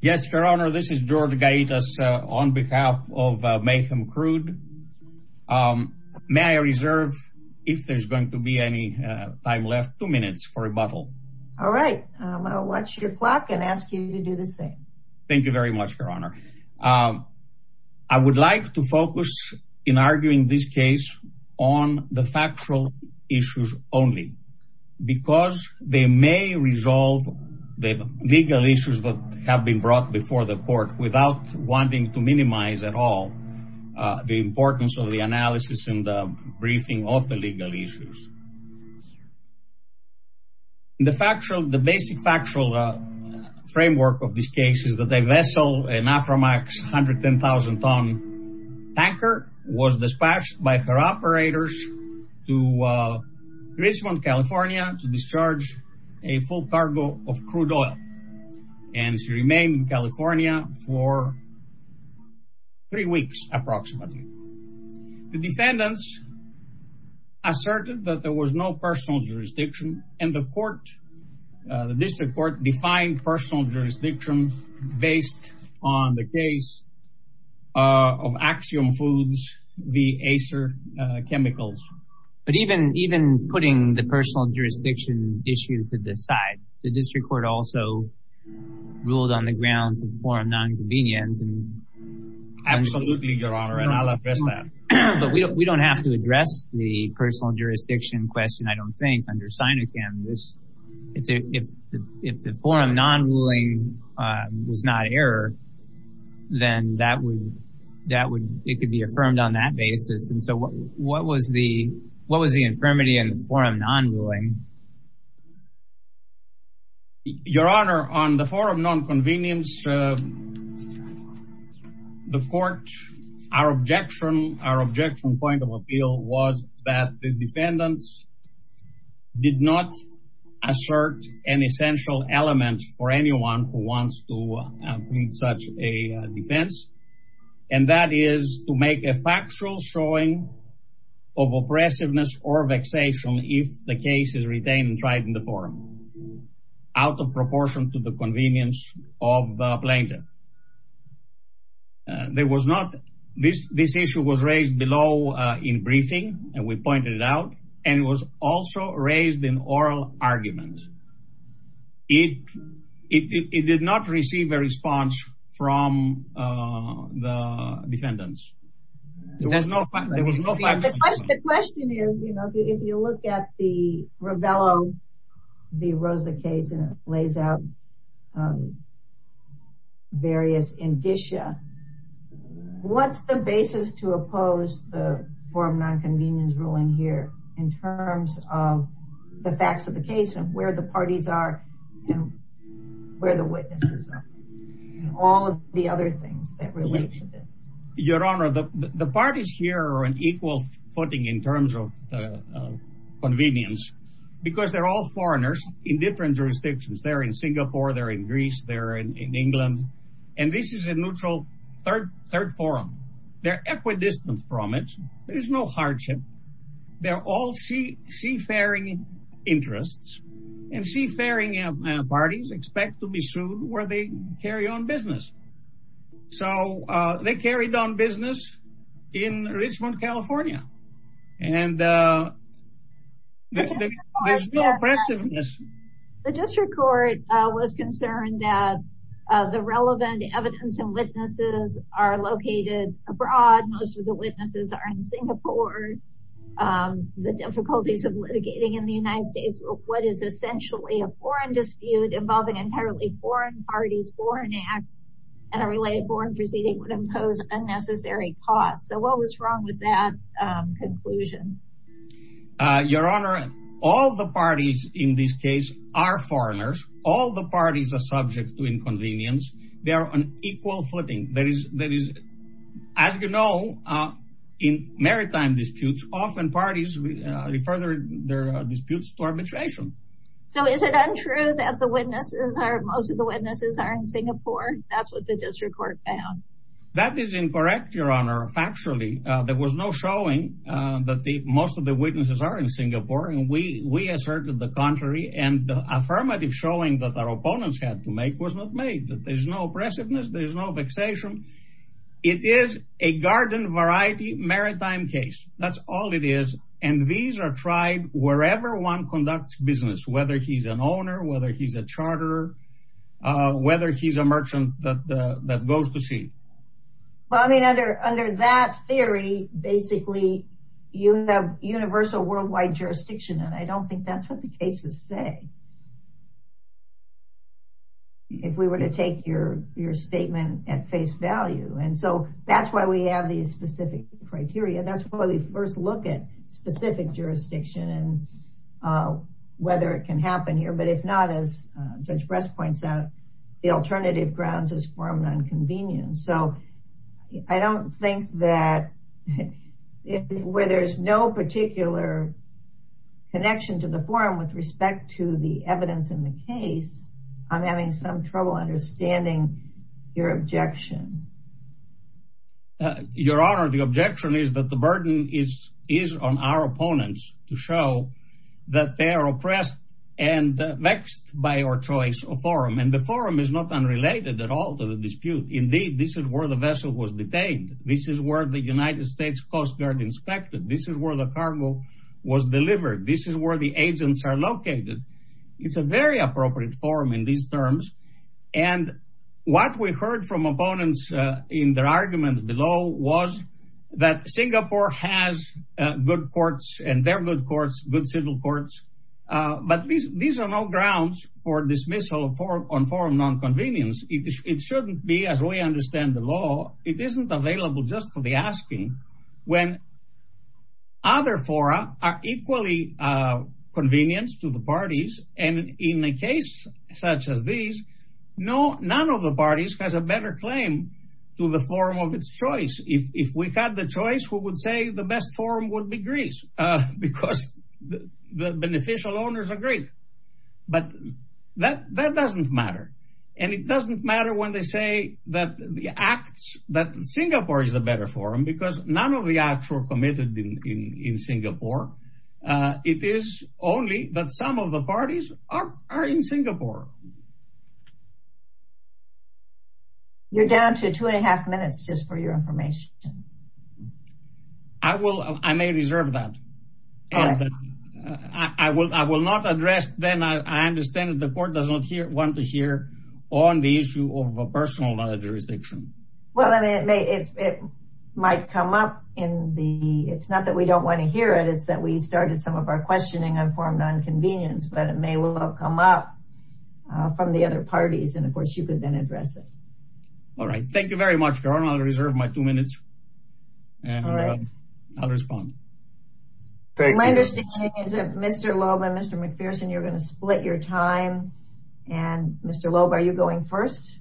Yes, Your Honor, this is George Gaitas on behalf of Mayhem Crude. May I reserve, if there's going to be any time left, two minutes for rebuttal? All right. I'll watch your clock and ask you to do the same. Thank you very much, Your Honor. I would like to focus in arguing this case on the factual issues only, because they may resolve the legal issues that have been brought before the court without wanting to minimize at all the importance of the analysis and the briefing of the legal issues. The basic factual framework of this case is that a vessel, an Aframax 110,000-ton tanker, was dispatched by her operators to Richmond, California, to discharge a full cargo of crude oil. And she remained in California for three weeks, approximately. The defendants asserted that there was no personal jurisdiction, and the court, the district court, defined personal jurisdiction based on the case of Axiom Foods v. Acer Chemicals. But even putting the personal jurisdiction issue to the side, the district court also ruled on the grounds of foreign non-convenience. Absolutely, Your Honor, and I'll address that. But we don't have to address the personal jurisdiction question, under Sinochem. If the foreign non-ruling was not error, then it could be affirmed on that basis. And so what was the infirmity in foreign non-ruling? Your Honor, on the foreign non-convenience, the court, our objection, our objection point of appeal was that the defendants did not assert an essential element for anyone who wants to plead such a defense. And that is to make a factual showing of oppressiveness or vexation if the case is a plaintiff. This issue was raised below in briefing, and we pointed it out, and it was also raised in oral arguments. It did not receive a response from the defendants. The question is, you know, if you look at the Rovello v. Rosa case, and it lays out various indicia, what's the basis to oppose the foreign non-convenience ruling here, in terms of the facts of the case, and where the parties are, and where the witnesses are, and all of the other things that relate to this? Your Honor, the parties here are on equal footing in terms of convenience, because they're all foreigners in different jurisdictions. They're in Singapore, they're in Greece, they're in England, and this is a neutral third forum. They're equidistant from it. There is no hardship. They're all seafaring interests, and seafaring parties expect to be sued where they carry on business. So they carried on business in Richmond, California, and there's no oppressiveness. The district court was concerned that the relevant evidence and witnesses are located abroad. Most of the witnesses are in Singapore. The difficulties of litigating in the United States, what is essentially a foreign dispute involving entirely foreign parties, foreign acts, and a related foreign proceeding would impose unnecessary costs. So what was wrong with that conclusion? Your Honor, all the parties in this case are foreigners. All the parties are subject to inconvenience. They are on equal footing. As you know, in maritime disputes, often parties refer their disputes to arbitration. So is it untrue that most of the witnesses are in Singapore? That's what the district court found. That is incorrect, Your Honor, factually. There was no showing that most of the witnesses are in Singapore, and we asserted the contrary, and the affirmative showing that our opponents had to make was not made. There's no oppressiveness. There's no vexation. It is a garden variety maritime case. That's all it is, and these are tried wherever one conducts business, whether he's an owner, whether he's a charterer, whether he's a merchant that goes to sea. Well, I mean, under that theory, basically, you have universal worldwide jurisdiction, and I don't think that's what the cases say if we were to take your statement at face value, and so that's why we have these specific criteria. That's why we first look at specific jurisdiction and whether it can happen here, but if not, as Judge Brest points out, the alternative grounds is for an inconvenience. So I don't think that where there's no particular connection to the forum with respect to the evidence in the case, I'm having some trouble understanding your objection. Your Honor, the objection is that the burden is on our opponents to show that they are oppressed and vexed by our choice of forum, and the forum is not unrelated at all to the dispute. Indeed, this is where the vessel was detained. This is where the United States Coast Guard inspected. This is where the cargo was delivered. This is where the agents are located. It's a very appropriate forum in these terms, and what we heard from opponents in their arguments below was that Singapore has good courts, and they're good courts, good civil courts, but these are no grounds for dismissal on forum nonconvenience. It shouldn't be, as we understand the law. It isn't available just for the asking when other fora are equally convenient to the parties, and in a case such as this, none of the parties has a better claim to the forum of its choice. If we had the choice, we would say the best forum would be Greece because the beneficial owners agree, but that doesn't matter, and it doesn't matter when they say that Singapore is a better forum because none of the acts were committed in Singapore. It is only that some of the parties are in Singapore. You're down to two and a half minutes just for your information. I will. I may reserve that. I will not address then. I understand that the court does not want to hear on the issue of a personal jurisdiction. Well, it might come up in the... It's not that we don't want to hear it. It's that we started some of our questioning on forum nonconvenience, but it may well come up from the other parties, and of course, you could then address it. All right. Thank you very much, Your Honor. I'll reserve my two minutes, and I'll respond. Thank you. My understanding is that Mr. Loeb and Mr. McPherson, you're going to split your time, and Mr. Loeb, are you going first?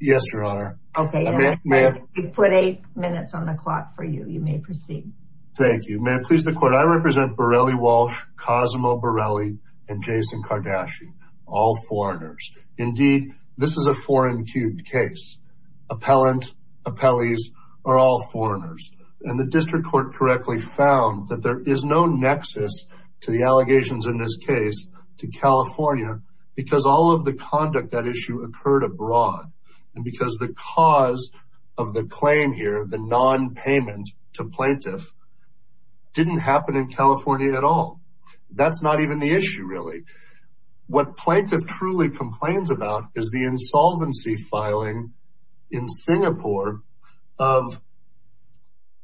Yes, Your Honor. Okay. I put eight minutes on the clock for you. You may proceed. Thank you, ma'am. Please, the court. I represent Borelli Walsh, Cosimo Borelli, and Jason Kardashian, all foreigners. Indeed, this is a foreign-queued case. Appellant, appellees are all foreigners, and the district court correctly found that there is no nexus to the allegations in this case to California because all of the conduct that issue occurred abroad, and because the cause of the claim here, the nonpayment to plaintiff, didn't happen in California at all. That's not even the issue, really. What plaintiff truly complains about is the insolvency filing in Singapore of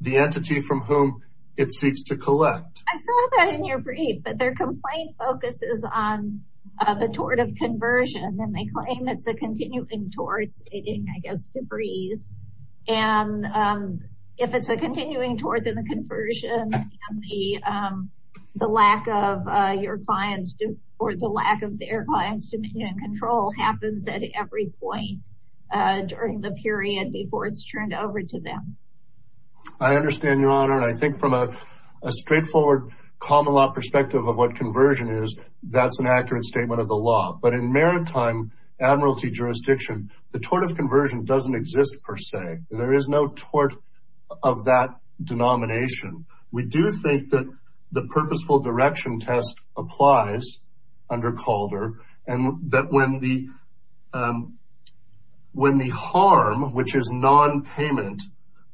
the entity from whom it seeks to collect. I saw that in your brief, but their complaint focuses on the tort of conversion, and they claim it's a continuing tort, stating, I guess, debris. If it's a continuing tort, then the conversion and the lack of your client's or the lack of their client's control happens at every point during the period before it's turned over to them. I understand, Your Honor. I think from a straightforward common-law perspective of what conversion is, that's an accurate statement of the law. But in maritime admiralty jurisdiction, the tort of conversion doesn't exist, per se. There is no tort of that denomination. We do think that the purposeful direction test applies under Calder, and that when the harm, which is nonpayment,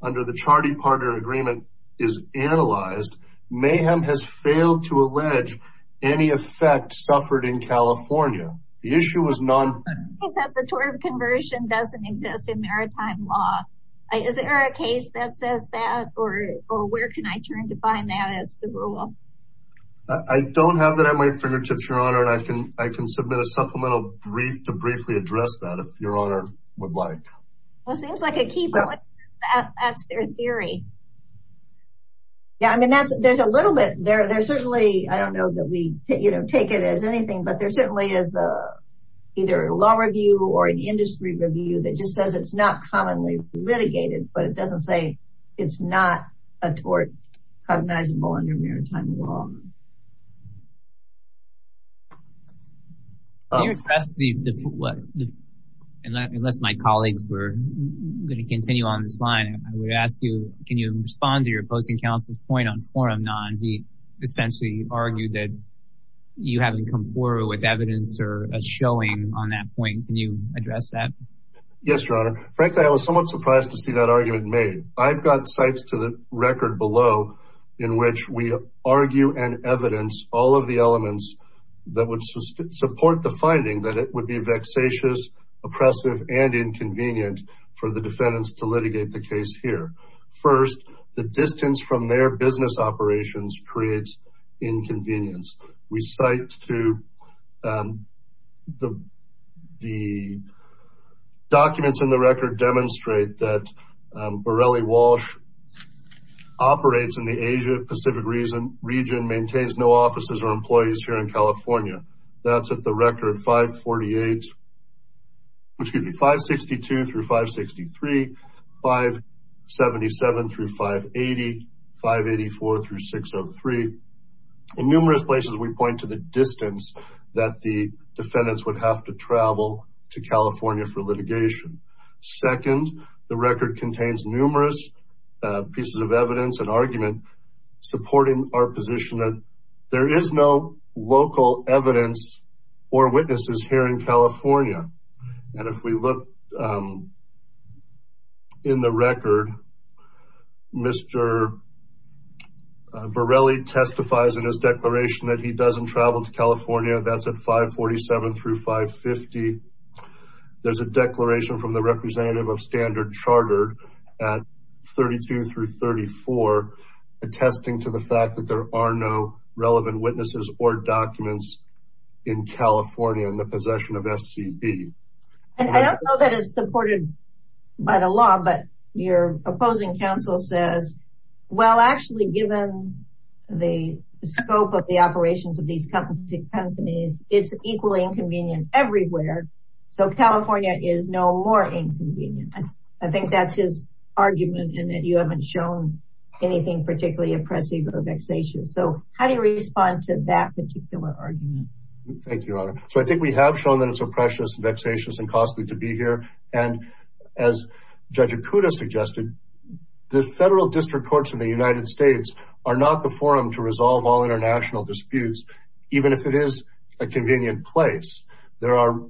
under the Charity Partner Agreement is analyzed, Mayhem has failed to allege any effect suffered in California. The issue is nonpayment. The tort of conversion doesn't exist in maritime law. Is there a case that says that, or where can I turn to find that as the rule? I don't have that at my fingertips, Your Honor, and I can submit a supplemental brief to briefly address that, if Your Honor would like. Well, it seems like a key point. That's their theory. Yeah, I mean, there's a little bit there. There's certainly, I don't know that we take it as anything, but there certainly is either a law review or an industry review that just says it's not commonly litigated, but it doesn't say it's not a tort cognizable under maritime law. Can you address the, unless my colleagues were going to continue on this line, I would ask you, can you respond to your opposing counsel's point on forum non? He essentially argued that you haven't come forward with evidence or a showing on that point. Can you address that? Yes, Your Honor. Frankly, I was somewhat surprised to see that argument made. I've got sites to the record below in which we argue and evidence all of the elements that would support the finding that it would be vexatious, oppressive, and inconvenient for the defendants to litigate the case here. First, the distance from their business operations creates inconvenience. We cite to the documents in the record demonstrate that Borrelli Walsh operates in the Asia Pacific region, maintains no offices or employees here in California. That's at the record 562-563, 577-580, 584-603. In numerous places, we point to the distance that the defendants would have to travel to California for litigation. Second, the record contains numerous pieces of evidence and argument supporting our position that there is no local evidence or witnesses here in California. And if we look in the record, Mr. Borrelli testifies in his declaration that he doesn't travel to California. That's at 547-550. There's a declaration from the representative of Standard Chartered at 32-34 attesting to the relevant witnesses or documents in California in the possession of SCB. And I don't know that it's supported by the law, but your opposing counsel says, well, actually given the scope of the operations of these companies, it's equally inconvenient everywhere. So California is no more inconvenient. I think that's his argument in that you haven't shown anything particularly oppressive or vexatious. So how do you respond to that particular argument? Thank you, Your Honor. So I think we have shown that it's oppressive, vexatious, and costly to be here. And as Judge Ikuda suggested, the federal district courts in the United States are not the forum to resolve all international disputes, even if it is a convenient place. There are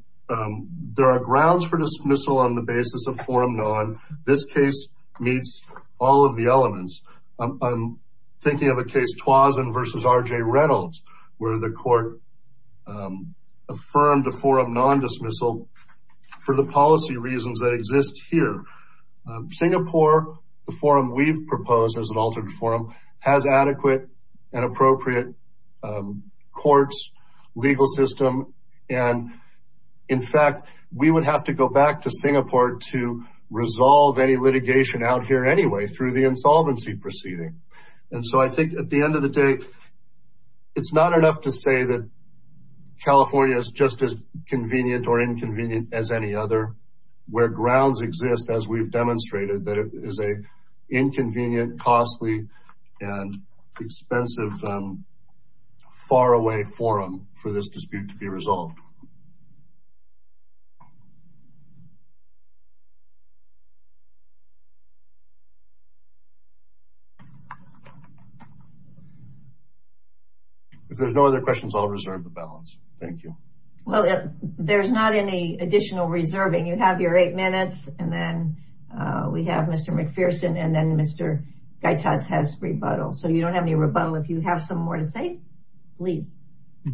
grounds for dismissal on the basis of forum non. This case meets all the elements. I'm thinking of a case, Twazin v. R.J. Reynolds, where the court affirmed a forum non-dismissal for the policy reasons that exist here. Singapore, the forum we've proposed as an altered forum, has adequate and appropriate courts, legal system. And in fact, we would have to go back to Singapore to resolve any litigation out here anyway through the insolvency proceeding. And so I think at the end of the day, it's not enough to say that California is just as convenient or inconvenient as any other where grounds exist, as we've demonstrated, that it is an inconvenient, costly, and expensive, faraway forum for this dispute to be resolved. If there's no other questions, I'll reserve the balance. Thank you. Well, there's not any additional reserving. You have your eight minutes, and then we have Mr. McPherson, and then Mr. Gaitas has rebuttal. So you don't have any rebuttal. If you have some more to say, please.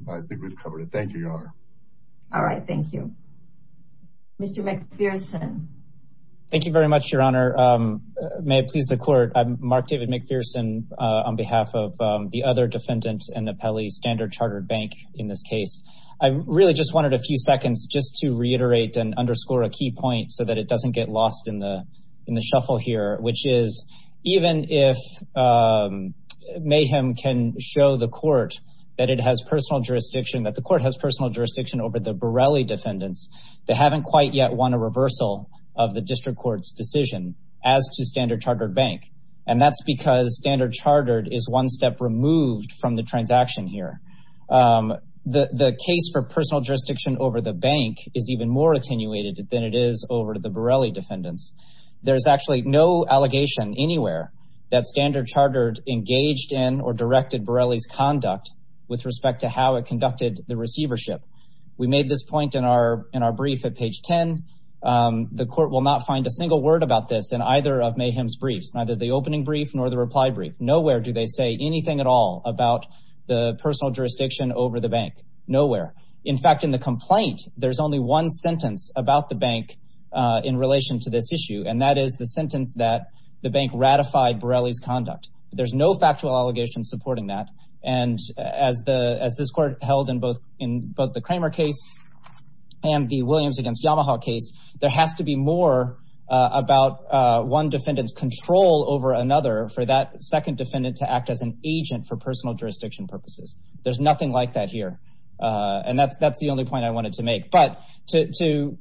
I think we've covered it. Thank you, Your Honor. All right. Thank you. Mr. McPherson. Thank you very much, Your Honor. May it please the court. I'm Mark David McPherson on behalf of the other defendants and the Pelly Standard Chartered Bank in this case. I really just wanted a few seconds just to reiterate and underscore a key point so that it doesn't get that it has personal jurisdiction, that the court has personal jurisdiction over the Borelli defendants. They haven't quite yet won a reversal of the district court's decision as to Standard Chartered Bank. And that's because Standard Chartered is one step removed from the transaction here. The case for personal jurisdiction over the bank is even more attenuated than it is over the Borelli defendants. There's actually no allegation anywhere that Standard Chartered engaged in or with respect to how it conducted the receivership. We made this point in our in our brief at page 10. The court will not find a single word about this in either of Mayhem's briefs, neither the opening brief nor the reply brief. Nowhere do they say anything at all about the personal jurisdiction over the bank. Nowhere. In fact, in the complaint, there's only one sentence about the bank in relation to this issue, and that is the sentence that the bank ratified Borelli's And as the as this court held in both in both the Kramer case and the Williams against Yamaha case, there has to be more about one defendant's control over another for that second defendant to act as an agent for personal jurisdiction purposes. There's nothing like that here. And that's that's the only point I wanted to make. But to to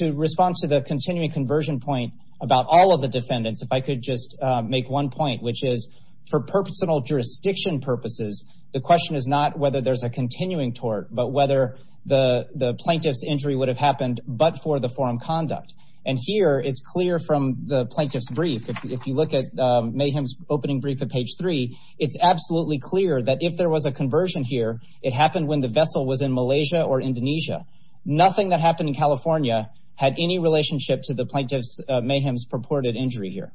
to respond to the continuing conversion point about all of the defendants, if I could just make one point, which is for personal jurisdiction purposes, the question is not whether there's a continuing tort, but whether the the plaintiff's injury would have happened but for the forum conduct. And here it's clear from the plaintiff's brief. If you look at Mayhem's opening brief at page three, it's absolutely clear that if there was a conversion here, it happened when the vessel was in Malaysia or Indonesia. Nothing that happened in California had any relationship to the plaintiff's Mayhem's purported injury here.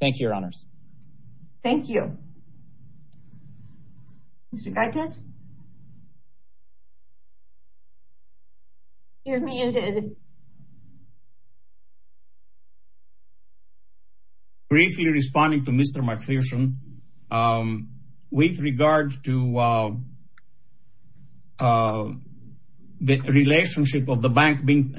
Thank you, your honors. Thank you. Mr. Curtis. You're muted. Briefly responding to Mr. McPherson, with regard to the relationship of the bank being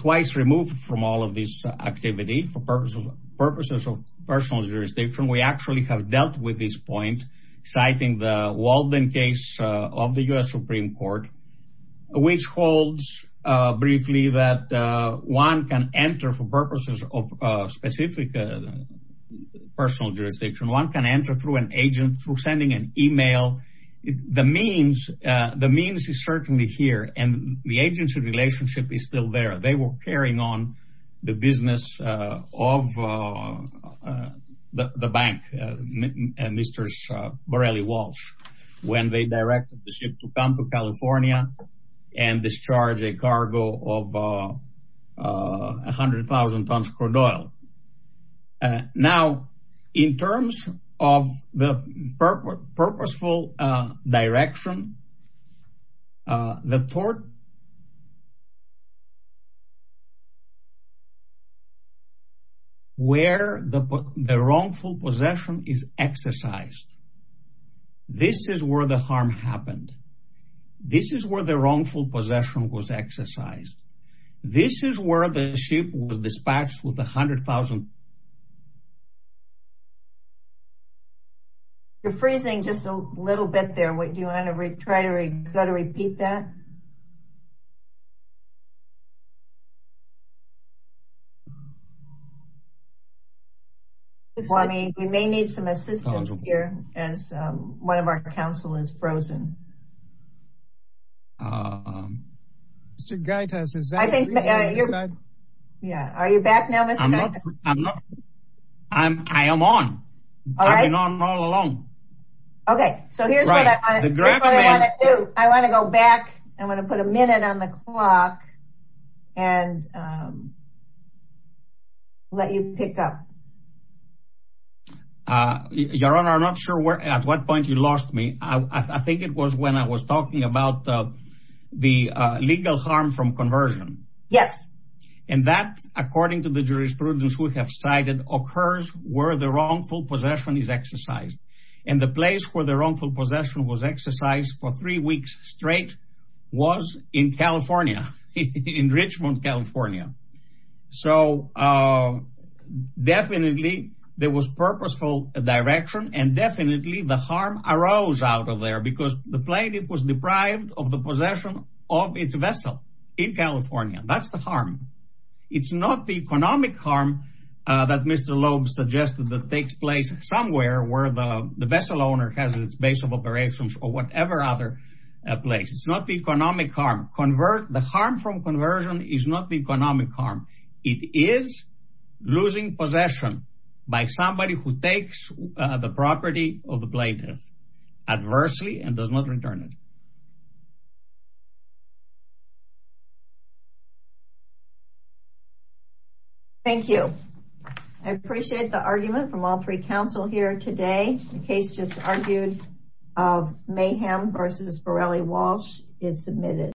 twice removed from all of this activity for purposes of purposes of personal jurisdiction, we actually have dealt with this point, citing the Walden case of the U.S. Supreme Court, which holds briefly that one can enter for purposes of specific personal jurisdiction, one can enter through an agent, through sending an email. The means, the means is certainly here and the agency relationship is still there. They were carrying on the business of the bank, Mr. Borelli Walsh, when they directed the ship to come to 100,000 tons crude oil. Now, in terms of the purposeful direction, the port where the wrongful possession is exercised. This is where the harm happened. This is where the ship was dispatched with 100,000 tons of crude oil. You're freezing just a little bit there. Do you want to try to repeat that? We may need some assistance here as one of our counsel is frozen. I am on. I've been on all along. I want to go back. I want to put a minute on the clock and let you pick up. Your Honor, I'm not sure at what point you lost me. I think it was when I was talking about the legal harm from conversion. Yes. And that, according to the jurisprudence we have cited, occurs where the wrongful possession is exercised. And the place where the wrongful possession was exercised for three weeks straight was in California, in Richmond, California. So definitely there was purposeful direction and definitely the harm arose out of there because the plaintiff was deprived of the possession of its vessel in California. That's the harm. It's not the economic harm that Mr. Loeb suggested that takes place somewhere where the vessel owner has his base of operations or whatever other place. It's not the economic harm. The harm from conversion is not the economic harm. It is losing possession by somebody who takes the property of the plaintiff adversely and does not return it. Thank you. I appreciate the argument from all three counsel here today. The case just argued of Mayhem v. Borelli Walsh is submitted.